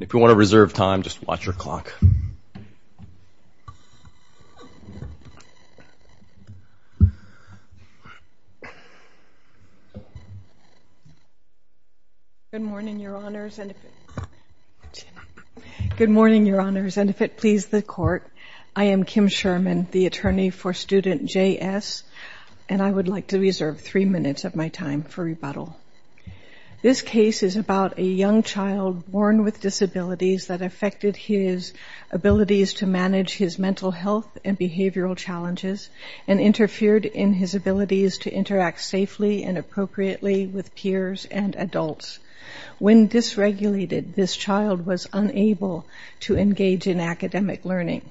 If you want to reserve time, just watch your clock. Good morning, Your Honors, and if it please the Court, I am Kim Sherman, the attorney for Student J.S., and I would like to reserve three minutes of my time for rebuttal. This case is about a young child born with disabilities that affected his abilities to manage his mental health and behavioral challenges and interfered in his abilities to interact safely and appropriately with peers and adults. When dysregulated, this child was unable to engage in academic learning.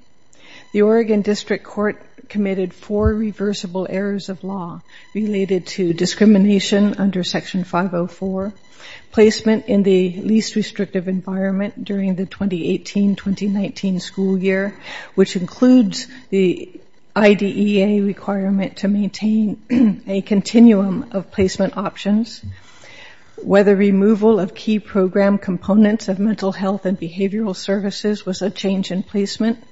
The Oregon District Court committed four reversible errors of law related to discrimination under Section 504, placement in the least restrictive environment during the 2018-2019 school year, which includes the IDEA requirement to maintain a continuum of placement options, whether removal of key program components of mental health and behavioral services was a change in placement,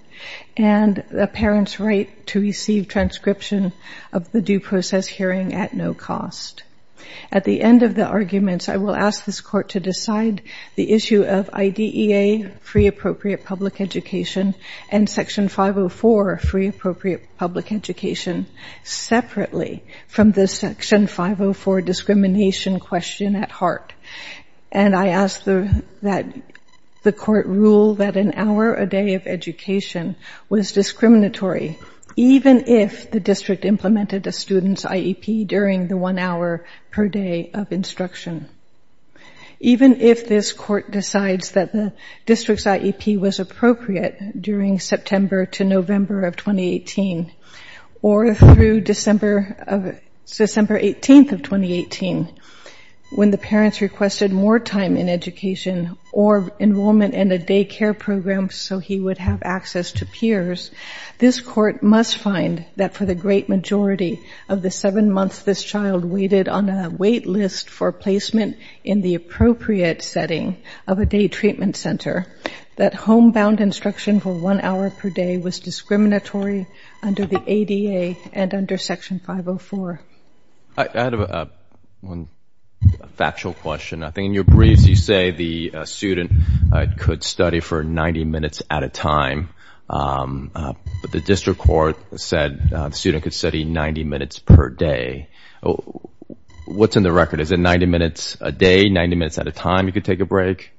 and a parent's right to receive transcription of the due process hearing at no cost. At the end of the arguments, I will ask this Court to decide the issue of IDEA, Free Appropriate Public Education, and Section 504, Free Appropriate Public Education, separately from the Section 504 discrimination question at heart. And I ask that the Court rule that an hour a day of education was discriminatory, even if the District implemented a student's IEP during the one hour per day of instruction. Even if this Court decides that the District's IEP was appropriate during September to November of 2018, or through December 18th of 2018, when the parents requested more time in education or enrollment in a daycare program so he would have access to peers, this Court must find that for the great majority of the seven months this child waited on a wait list for placement in the appropriate setting of a day treatment center, that homebound instruction for one hour per day was discriminatory under the ADA and under Section 504. I have one factual question. I think in your briefs you say the student could study for 90 minutes at a time, but the District Court said the student could study 90 minutes per day. What's in the record? Is it 90 minutes a day, 90 minutes at a time you could take a break?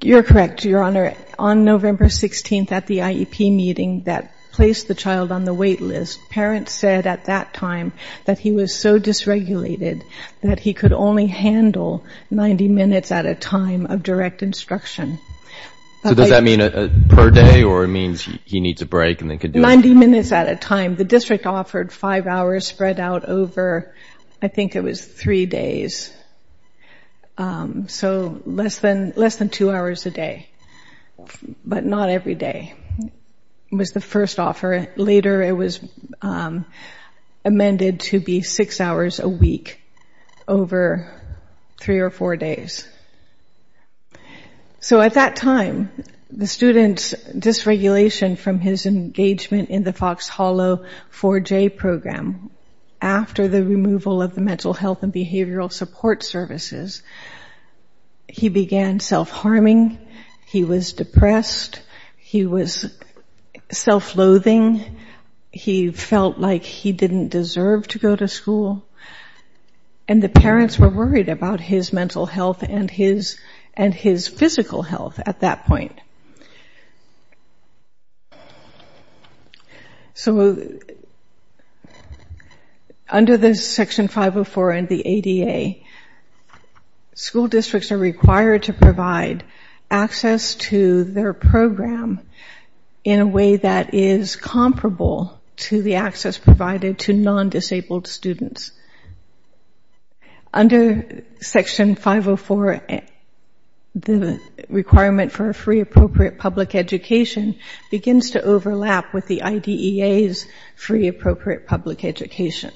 You're correct, Your Honor. On November 16th at the IEP meeting that placed the child on the wait list, parents said at that time that he was so dysregulated that he could only handle 90 minutes at a time of direct instruction. So does that mean per day, or it means he needs a break and then could do it? 90 minutes at a time. The District offered five hours spread out over, I think it was three days, so less than two hours a day, but not every day was the first offer. Later it was amended to be six hours a week over three or four days. So at that time, the student's dysregulation from his engagement in the Fox Hollow 4J program after the removal of the mental health and behavioral support services, he began self-harming. He was depressed. He was self-loathing. He felt like he didn't deserve to go to school. And the parents were worried about his mental health and his physical health at that point. So under the Section 504 and the ADA, school districts are required to provide access to their program in a way that is comparable to the access provided to non-disabled students. Under Section 504, the requirement for a free appropriate public education begins to overlap with the IDEA's free appropriate public education.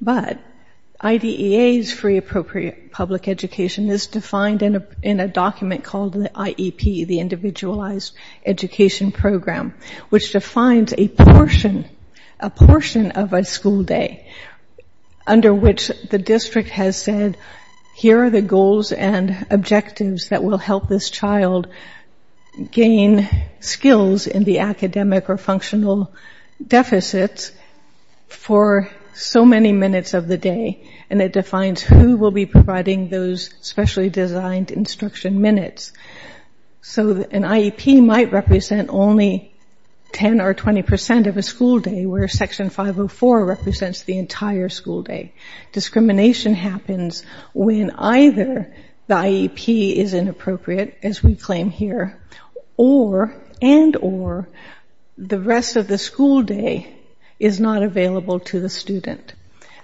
But IDEA's free appropriate public education is defined in a document called the IEP, the under which the district has said, here are the goals and objectives that will help this child gain skills in the academic or functional deficits for so many minutes of the day. And it defines who will be providing those specially designed instruction minutes. So an IEP might represent only 10 or 20 percent of a school day, where Section 504 represents the entire school day. Discrimination happens when either the IEP is inappropriate, as we claim here, and or the rest of the school day is not available to the student.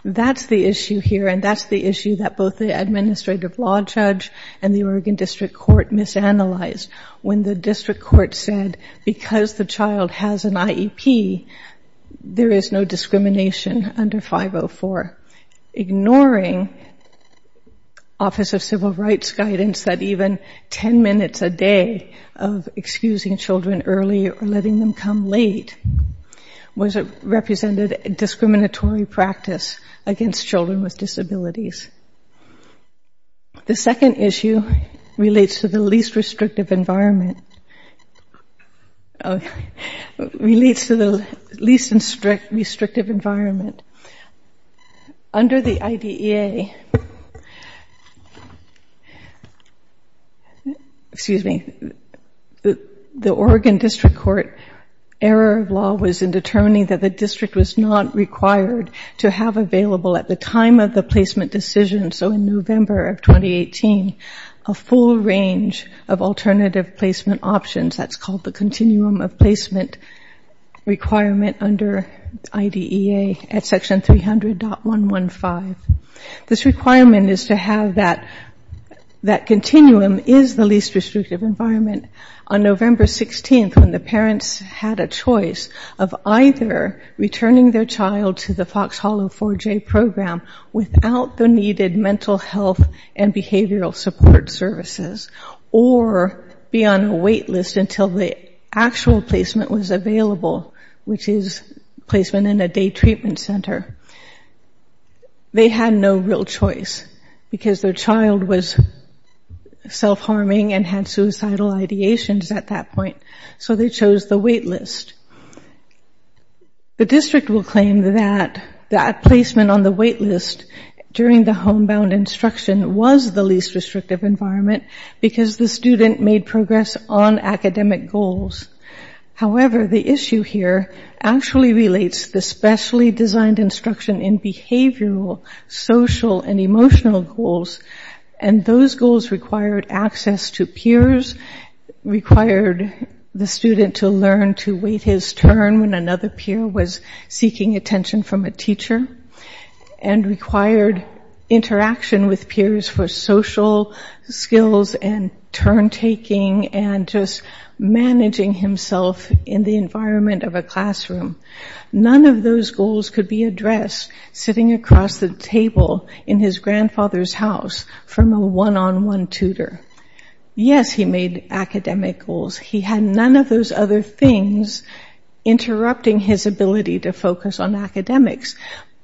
That's the issue here, and that's the issue that both the Administrative Law Judge and the Oregon District Court misanalyzed when the District Court said, because the child has an IEP, there is no discrimination under 504, ignoring Office of Civil Rights' guidance that even 10 minutes a day of excusing children early or letting them come late was a represented discriminatory practice against children with disabilities. The second issue relates to the least restrictive environment. Under the IDEA, the Oregon District Court error of law was in determining that the district was not required to have available at the time of the placement decision, so in November of 2018, a full range of alternative placement options, that's called the continuum of placement requirement under IDEA at Section 300.115. This requirement is to have that continuum is the least restrictive environment. On November 16th, when the parents had a choice of either returning their child to the Fox Hollow 4J program without the needed mental health and behavioral support services, or be on a wait list until the actual placement was available, which is placement in a day treatment center, they had no real choice, because their child was self-harming and had suicidal ideations at that point, so they chose the wait list. The district will claim that that placement on the wait list during the homebound instruction was the least restrictive environment because the student made progress on academic goals. However, the issue here actually relates to the specially designed instruction in behavioral, social, and emotional goals, and those goals required access to peers, required the student to learn to wait his turn when another peer was seeking attention from a teacher, and required interaction with peers for social skills and turn-taking and just managing himself in the environment of a classroom. None of those goals could be addressed sitting across the table in his grandfather's house from a one-on-one tutor. Yes, he made academic goals. He had none of those other things interrupting his ability to focus on academics,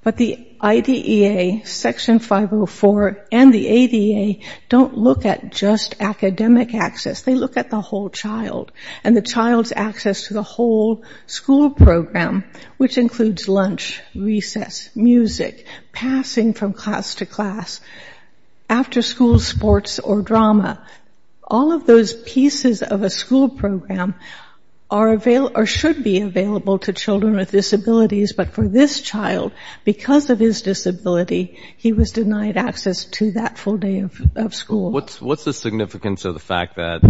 but the IDEA, Section 504, and the ADA don't look at just academic access. They look at the whole child and the child's access to the whole school program, which includes lunch, recess, music, passing from class to class, after-school sports or drama. All of those pieces of a school program should be available to children with disabilities, but for this child, because of his disability, he was denied access to that full day of school. What's the significance of the fact that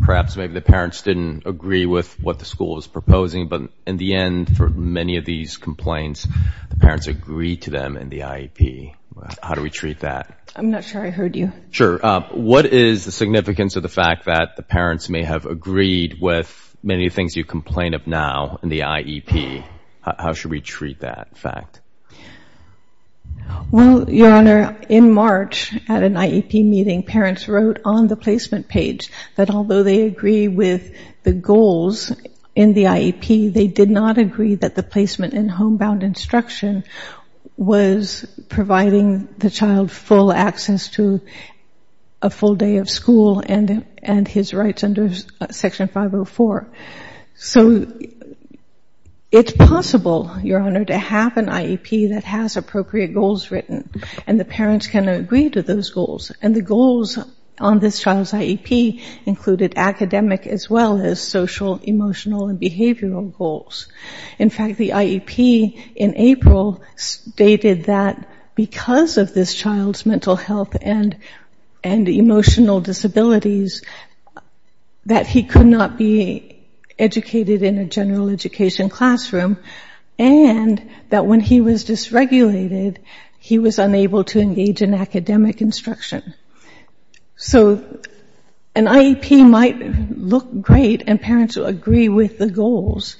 perhaps maybe the parents didn't agree with what the school was proposing, but in the end, for many of these complaints, the parents agreed to them in the IEP? How do we treat that? I'm not sure I heard you. Sure. What is the significance of the fact that the parents may have agreed with many of the things you complain of now in the IEP? How should we treat that fact? Well, Your Honor, in March, at an IEP meeting, parents wrote on the placement page that although they agree with the goals in the IEP, they did not agree that the placement in homebound instruction was providing the child full access to a full day of school and his rights under Section 504. So it's possible, Your Honor, to have an IEP that has appropriate goals written, and the parents can agree to those goals, and the goals on this child's IEP included academic as well as social, emotional, and behavioral goals. In fact, the IEP in April stated that because of this child's mental health and emotional disabilities that he could not be educated in a general education classroom, and that when he was dysregulated, he was unable to engage in academic instruction. So an IEP might look great, and parents will agree with the goals,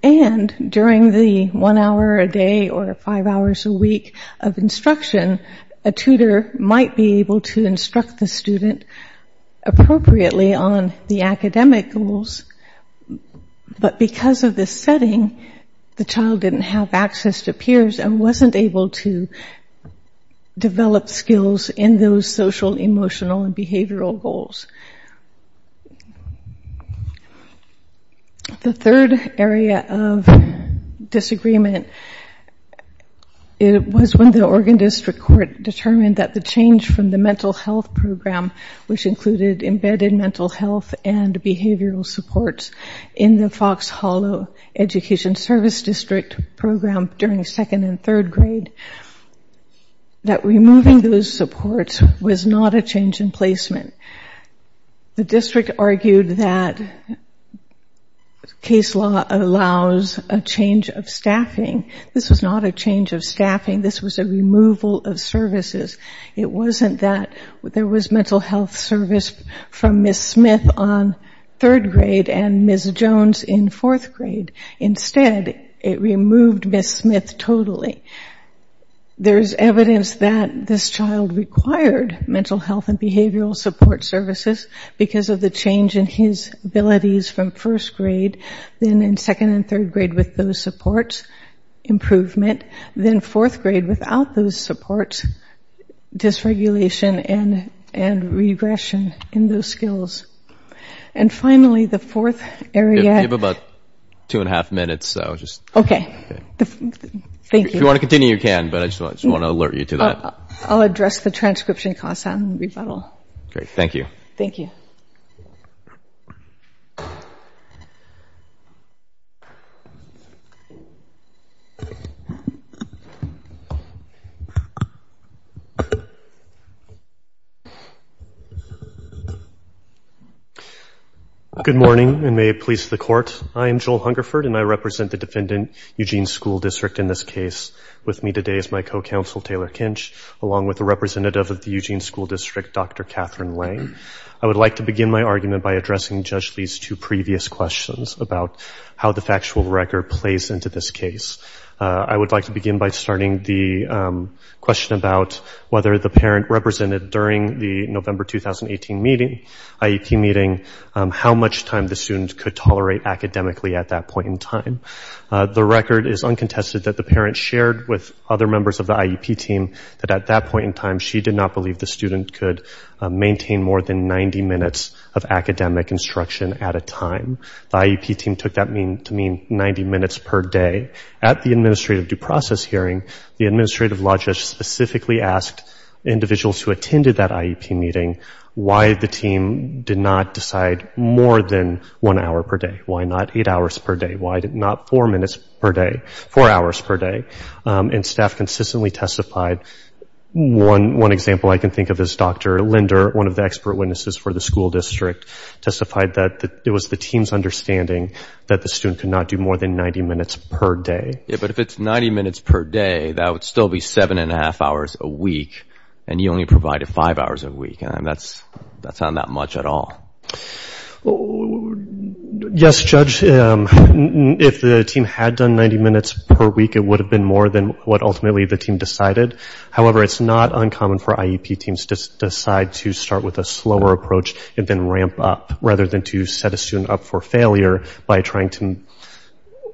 and during the one hour a day or five hours a week of instruction, a tutor might be able to instruct the student appropriately on the academic goals. But because of this setting, the child didn't have access to peers and wasn't able to develop skills in those social, emotional, and behavioral goals. The third area of disagreement was when the Oregon District Court determined that the change from the mental health program, which included embedded mental health and behavioral supports in the Fox Hollow Education Service District program during second and third grade, that removing those supports was not a change in placement. The district argued that case law allows a change of staffing. This was not a change of staffing, this was a removal of services. It wasn't that there was mental health service from Ms. Smith on third grade and Ms. Jones in fourth grade. Instead, it removed Ms. Smith totally. There's evidence that this child required mental health and behavioral support services because of the change in his abilities from first grade, then in second and third grade with those supports, improvement, then fourth grade without those supports, dysregulation and regression in those skills. And finally, the fourth area... You have about two and a half minutes, so just... Okay. Thank you. If you want to continue, you can, but I just want to alert you to that. I'll address the transcription costs and rebuttal. Great. Thank you. Thank you. Good morning, and may it please the court. I am Joel Hungerford, and I represent the defendant, Eugene School District, in this case. With me today is my co-counsel, Taylor Kinch, along with the representative of the Eugene School District, Dr. Catherine Lange. I would like to begin my argument by addressing Judge Lee's two previous questions about how the factual record plays into this case. I would like to begin by starting the question about whether the parent represented during the November 2018 IEP meeting how much time the student could tolerate academically at that point in time. The record is uncontested that the parent shared with other members of the IEP team that at that point in time, she did not believe the student could maintain more than 90 minutes of academic instruction at a time. The IEP team took that to mean 90 minutes per day. At the administrative due process hearing, the administrative law judge specifically asked individuals who attended that IEP meeting why the team did not decide more than one hour per day. Why not eight hours per day? Why not four minutes per day? Four hours per day? And staff consistently testified. One example I can think of is Dr. Linder, one of the expert witnesses for the school district, testified that it was the team's understanding that the student could not do more than 90 minutes per day. But if it's 90 minutes per day, that would still be seven and a half hours a week, and you only provided five hours a week. That's not that much at all. Yes, Judge. If the team had done 90 minutes per week, it would have been more than what ultimately the team decided. However, it's not uncommon for IEP teams to decide to start with a slower approach and ramp up, rather than to set a student up for failure by trying to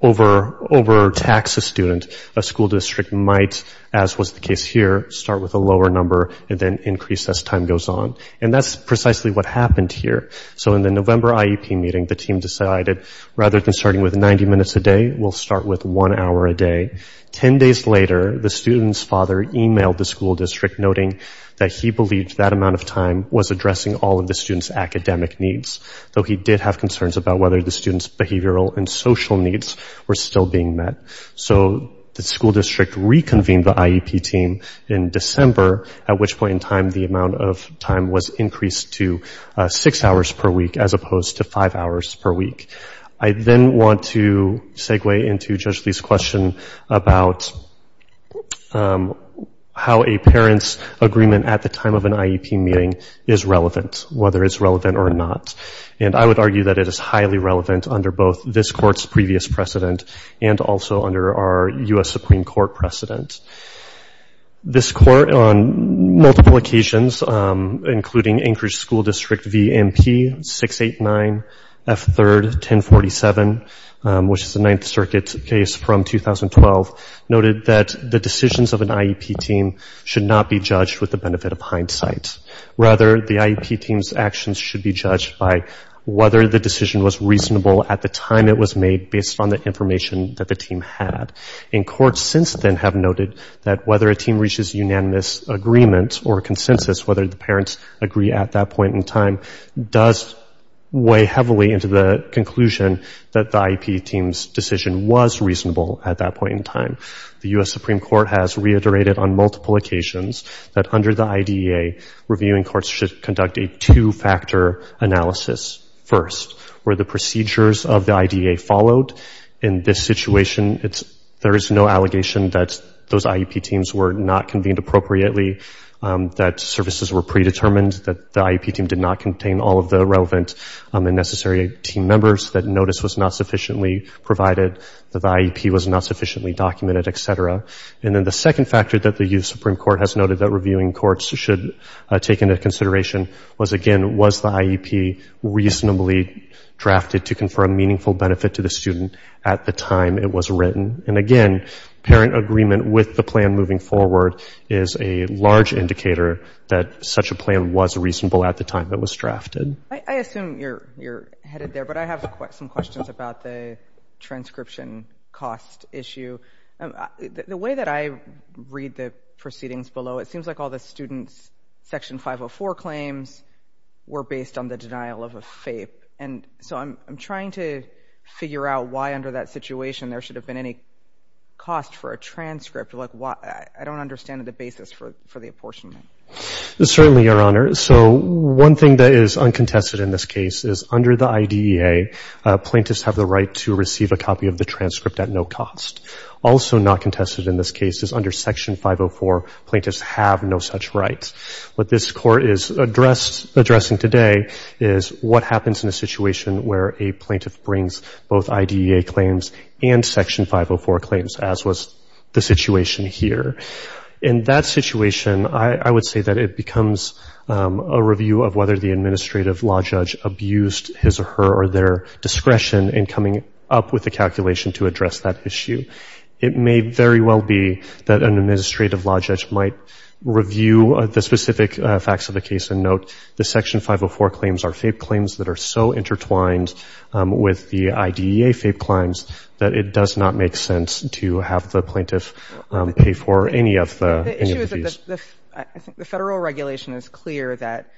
overtax a student. A school district might, as was the case here, start with a lower number and then increase as time goes on. And that's precisely what happened here. So in the November IEP meeting, the team decided, rather than starting with 90 minutes a day, we'll start with one hour a day. Ten days later, the student's father emailed the school district, noting that he believed that amount of time was addressing all of the student's academic needs, though he did have concerns about whether the student's behavioral and social needs were still being met. So the school district reconvened the IEP team in December, at which point in time the amount of time was increased to six hours per week, as opposed to five hours per week. I then want to segue into Judge Lee's question about how a parent's agreement at the time of an IEP meeting is relevant, whether it's relevant or not. And I would argue that it is highly relevant under both this Court's previous precedent and also under our U.S. Supreme Court precedent. This Court, on multiple occasions, including Anchorage School District v. MP 689, F3rd 1047, which is the Ninth Circuit case from 2012, noted that the decisions of an IEP team should not be judged with the benefit of hindsight. Rather, the IEP team's actions should be judged by whether the decision was reasonable at the time it was made based on the information that the team had. And courts since then have noted that whether a team reaches unanimous agreement or consensus, whether the parents agree at that point in time, does weigh heavily into the conclusion that the IEP team's decision was reasonable at that point in time. The U.S. Supreme Court has reiterated on multiple occasions that under the IDEA, reviewing courts should conduct a two-factor analysis first. Where the procedures of the IDEA followed in this situation, there is no allegation that those IEP teams were not convened appropriately, that services were predetermined, that the IEP team did not contain all of the relevant and necessary team members, that notice was not sufficiently provided, that the IEP was not sufficiently documented, etc. And then the second factor that the U.S. Supreme Court has noted that reviewing courts should take into consideration was, again, was the IEP reasonably drafted to confer a meaningful benefit to the student at the time it was written? And again, parent agreement with the plan moving forward is a large indicator that such a plan was reasonable at the time it was drafted. I assume you're headed there, but I have some questions about the transcription cost issue. The way that I read the proceedings below, it seems like all the students' Section 504 claims were based on the denial of a FAPE. And so I'm trying to figure out why under that kind of a basis for the apportionment. Certainly, Your Honor. So one thing that is uncontested in this case is under the IDEA, plaintiffs have the right to receive a copy of the transcript at no cost. Also not contested in this case is under Section 504, plaintiffs have no such right. What this Court is addressing today is what happens in a situation where a plaintiff brings both IDEA claims and Section 504 claims, as was the situation here. In that situation, I would say that it becomes a review of whether the administrative law judge abused his or her or their discretion in coming up with a calculation to address that issue. It may very well be that an administrative law judge might review the specific facts of the case and note the Section 504 claims are FAPE claims that are so intertwined with the IDEA FAPE claims that it does not make sense to have the plaintiff pay for any of these. I think the Federal regulation is clear that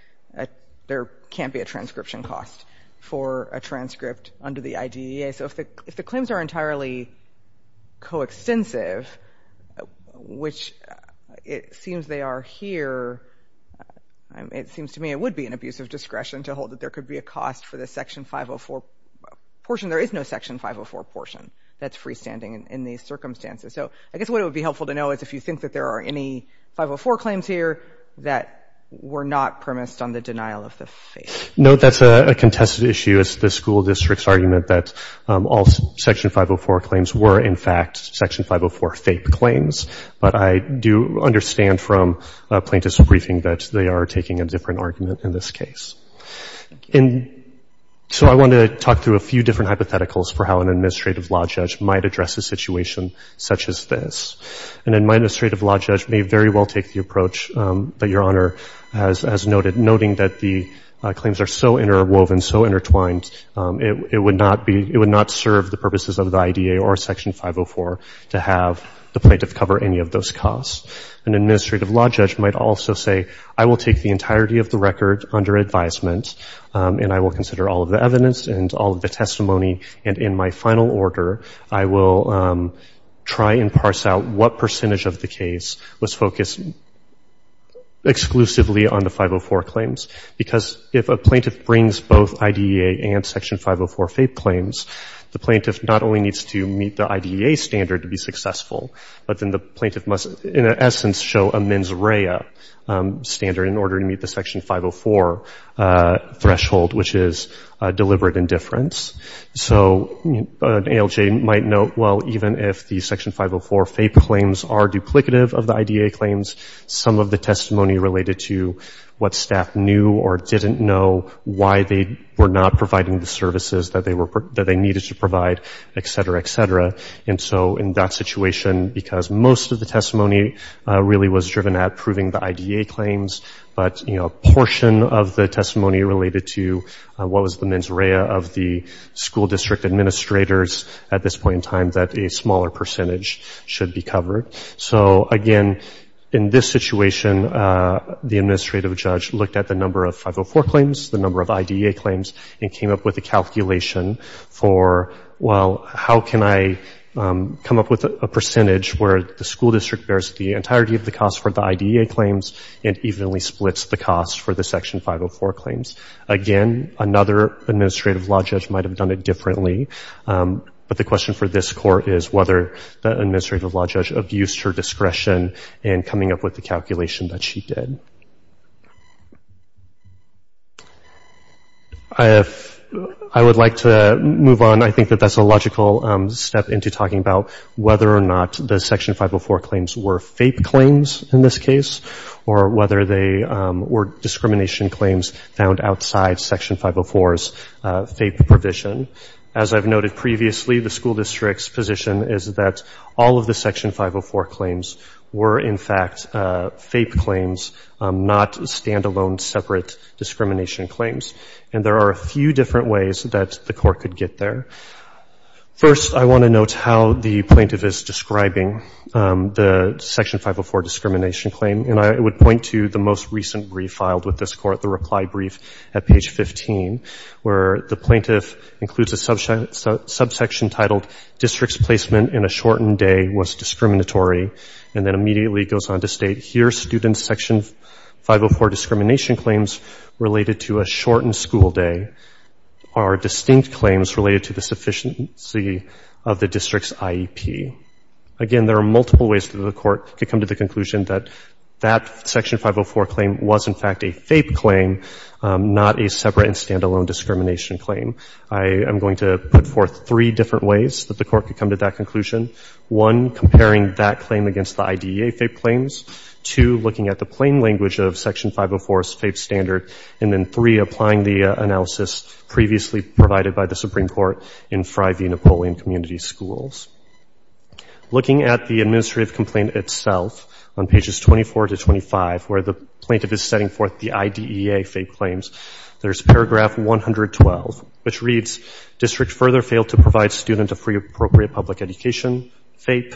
there can't be a transcription cost for a transcript under the IDEA. So if the claims are entirely coextensive, which it seems they are here, it seems to me it would be an abusive discretion to hold that there could be a cost for the Section 504 portion. There is no Section 504 portion that's freestanding in these circumstances. So I guess what would be helpful to know is if you think that there are any 504 claims here that were not premised on the denial of the FAPE. No, that's a contested issue. It's the school district's argument that all Section 504 claims were, in fact, Section 504 FAPE claims. But I do understand from plaintiff's briefing that they are taking a different argument in this case. And so I want to talk through a few different hypotheticals for how an administrative law judge might address a situation such as this. And then my administrative law judge may very well take the approach that Your Honor has noted, noting that the claims are so interwoven, so intertwined, it would not be — it would not serve the purposes of the IDEA or Section 504 to have the plaintiff cover any of those costs. An administrative law judge might also say, I will take the entirety of the record under advisement, and I will consider all of the evidence and all of the testimony, and in my final order, I will try and parse out what percentage of the case was focused exclusively on the 504 claims. Because if a plaintiff brings both IDEA and Section 504 FAPE claims, the plaintiff not only needs to meet the IDEA standard to be successful, but then the plaintiff must, in essence, show a mens rea standard in order to meet the Section 504 threshold, which is deliberate indifference. So an ALJ might note, well, even if the Section 504 FAPE claims are duplicative of the IDEA claims, some of the testimony related to what staff knew or didn't know, why they were not providing the services that they needed to provide, et cetera, et cetera, and so in that situation, because most of the testimony really was driven at proving the IDEA claims, but, you know, a portion of the testimony related to what was the mens rea of the school district administrators at this point in time that a smaller percentage should be covered. So, again, in this situation, the administrative judge looked at the number of 504 claims, the number of IDEA claims, and came up with a calculation for, well, how can I come up with a percentage where the school district bears the entirety of the cost for the IDEA claims and evenly splits the cost for the Section 504 claims? Again, another administrative law judge might have done it differently, but the question for this Court is whether the administrative law judge abused her authority in coming up with the calculation that she did. I would like to move on. I think that that's a logical step into talking about whether or not the Section 504 claims were FAPE claims in this case or whether they were discrimination claims found outside Section 504's FAPE provision. As I've noted previously, the school district's position is that all of the Section 504 claims were, in fact, FAPE claims, not stand-alone separate discrimination claims, and there are a few different ways that the Court could get there. First, I want to note how the plaintiff is describing the Section 504 discrimination claim, and I would point to the most recent brief filed with this Court, the reply brief at page 15, where the plaintiff includes a subsection titled, District's placement in a shortened day was discriminatory, and then immediately goes on to state, here, student's Section 504 discrimination claims related to a shortened school day are distinct claims related to the sufficiency of the district's IEP. Again, there are multiple ways that the Court could come to the conclusion that that Section 504 claim was, in fact, a FAPE claim, not a separate and stand-alone discrimination claim. I am going to put forth three different ways that the Court could come to that conclusion, one, comparing that claim against the IDEA FAPE claims, two, looking at the plain language of Section 504's FAPE standard, and then three, applying the analysis previously provided by the Supreme Court in Frye v. Napoleon Community Schools. Looking at the administrative complaint itself, on pages 24 to 25, where the plaintiff is setting forth the IDEA FAPE claims, there's paragraph 112, which reads, District further failed to provide students a free, appropriate public education, FAPE,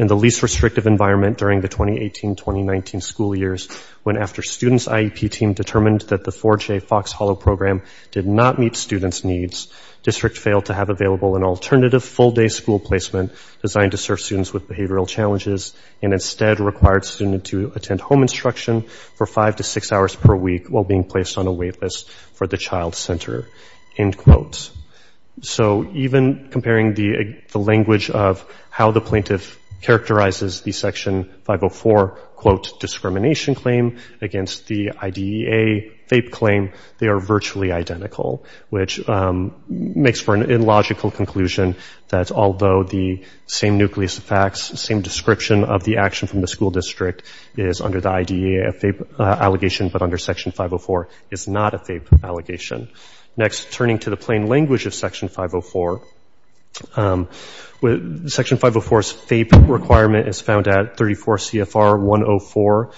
in the least restrictive environment during the 2018-2019 school years, when, after students' IEP team determined that the 4J Fox Hollow program did not meet students' needs, District failed to have available an alternative full-day school placement designed to serve students with behavioral challenges, and instead required students to attend home instruction for five to six hours per week while being placed on a wait list for the child center, end quote. So even comparing the language of how the plaintiff characterizes the Section 504, quote, discrimination claim against the IDEA FAPE claim, they are virtually identical, which makes for an illogical conclusion that although the same nucleus of facts, the same description of the action from the school district is under the IDEA FAPE allegation, but under Section 504 is not a FAPE allegation. Next, turning to the plain language of Section 504, Section 504's FAPE requirement is found at 34 CFR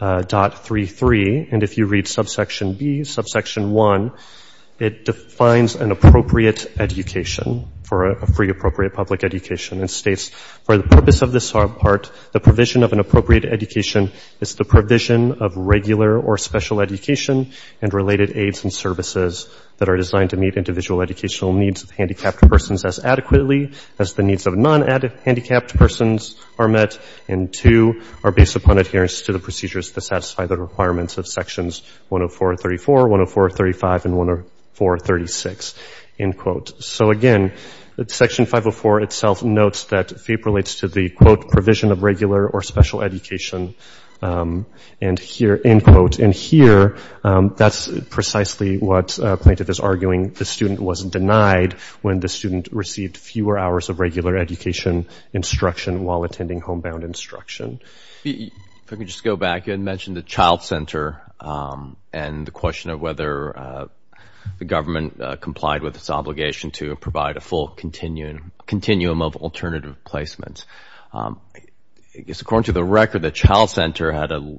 104.33, and if you read subsection B, subsection 1, it defines an appropriate public education and states, for the purpose of this part, the provision of an appropriate education is the provision of regular or special education and related aids and services that are designed to meet individual educational needs of handicapped persons as adequately as the needs of non-handicapped persons are met, and two, are based upon adherence to the procedures that satisfy the requirements of Sections 104.34, 104.35, and 104.36, end of Section 504 itself notes that FAPE relates to the, quote, provision of regular or special education, and here, end quote, and here, that's precisely what Plaintiff is arguing the student was denied when the student received fewer hours of regular education instruction while attending homebound instruction. If I could just go back, you had mentioned the child center and the question of whether the government complied with its obligation to provide a full continuum of alternative placements. I guess, according to the record, the child center had a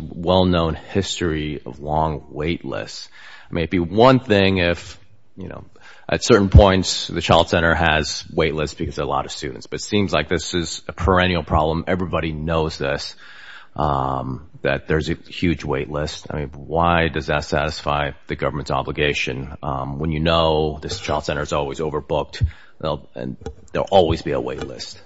well-known history of long wait lists. I mean, it'd be one thing if, you know, at certain points, the child center has wait lists because there are a lot of students, but it seems like this is a perennial problem. Everybody knows this, that there's a huge wait list. I mean, why does that satisfy the government's obligation when you know this child center is always overbooked and there will always be a wait list?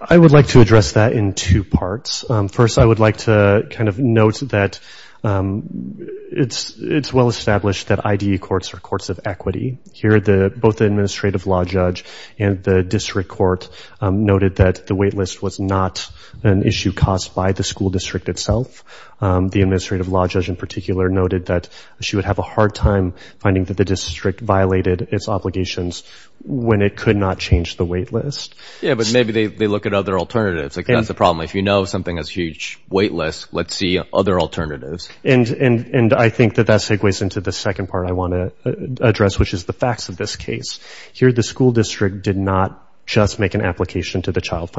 I would like to address that in two parts. First, I would like to kind of note that it's well established that IDE courts are courts of equity. Here, both the administrative law judge and the district court noted that the wait list was not an issue caused by the school district itself. The administrative law judge in particular noted that she would have a hard time finding that the district violated its obligations when it could not change the wait list. Yeah, but maybe they look at other alternatives. Like, that's a problem. If you know something has a huge wait list, let's see other alternatives. And I think that that segues into the second part I want to address, which is the facts of this case. Here, the school district did not just make an application to the child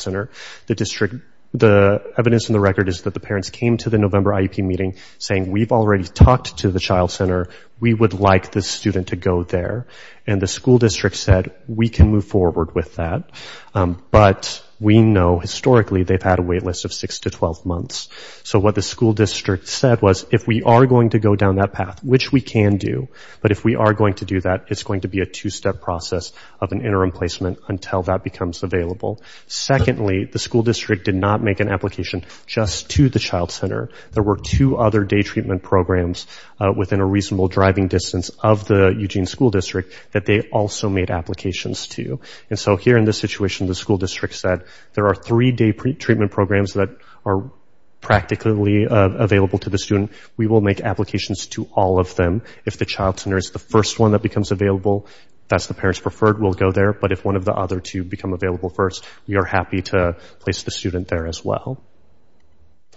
center. The district, the evidence in the record is that the parents came to the November IEP meeting saying, we've already talked to the child center. We would like this student to go there. And the school district said, we can move forward with that. But we know historically they've had a wait list of six to 12 months. So what the school district said was, if we are going to go down that path, which we can do, but if we are going to do that, it's going to be a two-step process of an interim placement until that becomes available. Secondly, the school district did not make an application just to the child center. There were two other day treatment programs within a reasonable driving distance of the Eugene School District that they also made applications to. And so here in this situation, the school district said, there are three day treatment programs that are practically available to the student. We will make applications to all of them. If the child center is the first one that becomes available, if that's the parents preferred, we'll go there. But if one of the other two become available first, we are happy to place the student there as well.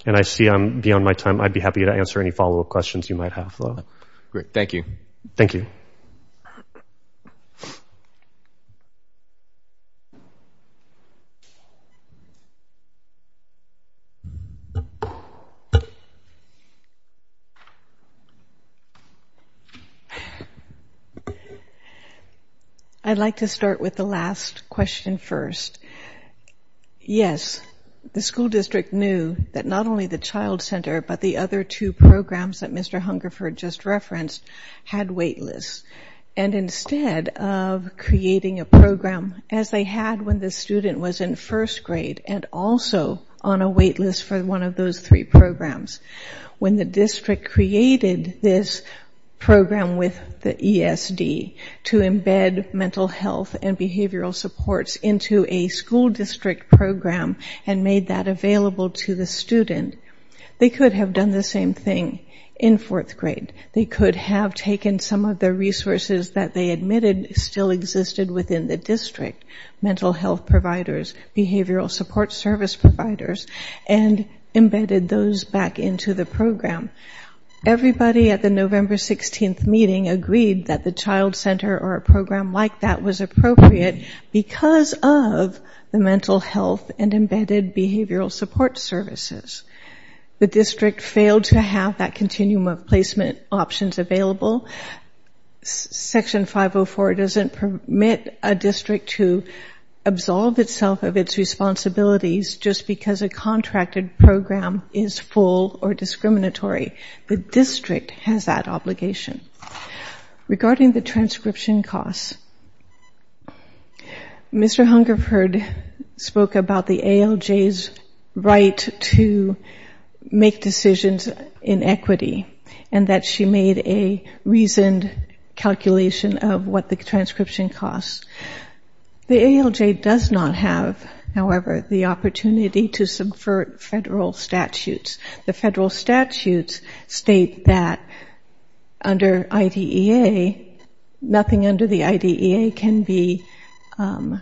And I see I'm beyond my time. I'd be happy to answer any follow-up questions you might have, though. Great. Thank you. Thank you. I'd like to start with the last question first. Yes, the school district knew that not only the child center, but the other two programs that Mr. Hungerford just referenced had wait lists. And instead of creating a program as they had when the student was in first grade and also on a wait list for one of those three programs, when the district created this program with the ESD to embed mental health and behavioral supports into a school district program and made that available to the student, they could have done the same thing in fourth grade. They could have taken some of the resources that they admitted still existed within the district, mental health providers, behavioral support service providers, and embedded those back into the program. Everybody at the November 16th meeting agreed that the child center or a program like that was appropriate because of the mental health and embedded behavioral support services. The district failed to have that continuum of placement options available. Section 504 doesn't permit a district to absolve itself of its responsibilities just because a contracted program is full or discriminatory. The district has that obligation. Regarding the transcription costs, Mr. Hungerford spoke about the ALJ's right to provide a transcription and make decisions in equity and that she made a reasoned calculation of what the transcription costs. The ALJ does not have, however, the opportunity to subvert federal statutes. The federal statutes state that under IDEA, nothing under the IDEA can be, can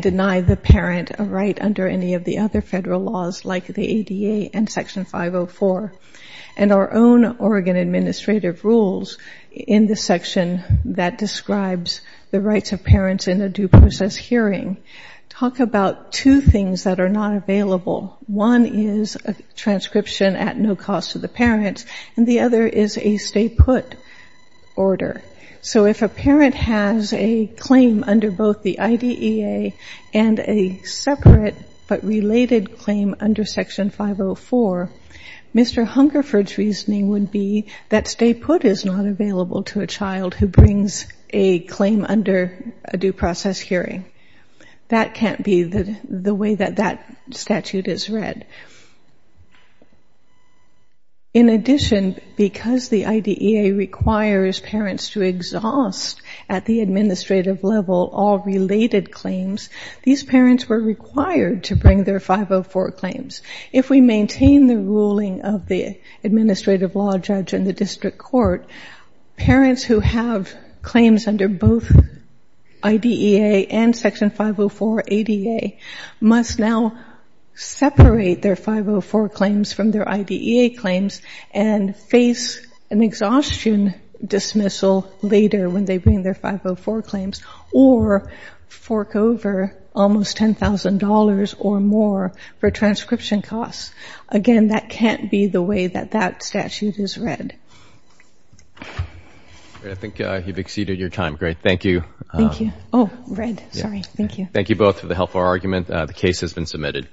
deny the parent a right under any of the other federal laws like the ADA and Section 504. And our own Oregon Administrative Rules in the section that describes the rights of parents in a due process hearing talk about two things that are not available. One is a transcription at no cost to the parents, and the other is a stay put order. So if a parent has a claim under both the IDEA and a separate state order, but related claim under Section 504, Mr. Hungerford's reasoning would be that stay put is not available to a child who brings a claim under a due process hearing. That can't be the way that that statute is read. In addition, because the IDEA requires parents to exhaust at the administrative level all related claims, these parents were required to bring their 504 claims. If we maintain the ruling of the administrative law judge in the district court, parents who have claims under both IDEA and Section 504 ADA must now separate their 504 claims from their IDEA claims and face an exhaustion dismissal later when they bring their 504 claims or fork over almost $10,000 or more for transcription costs. Again, that can't be the way that that statute is read. I think you've exceeded your time. Great. Thank you. Thank you both for the helpful argument. The case has been submitted.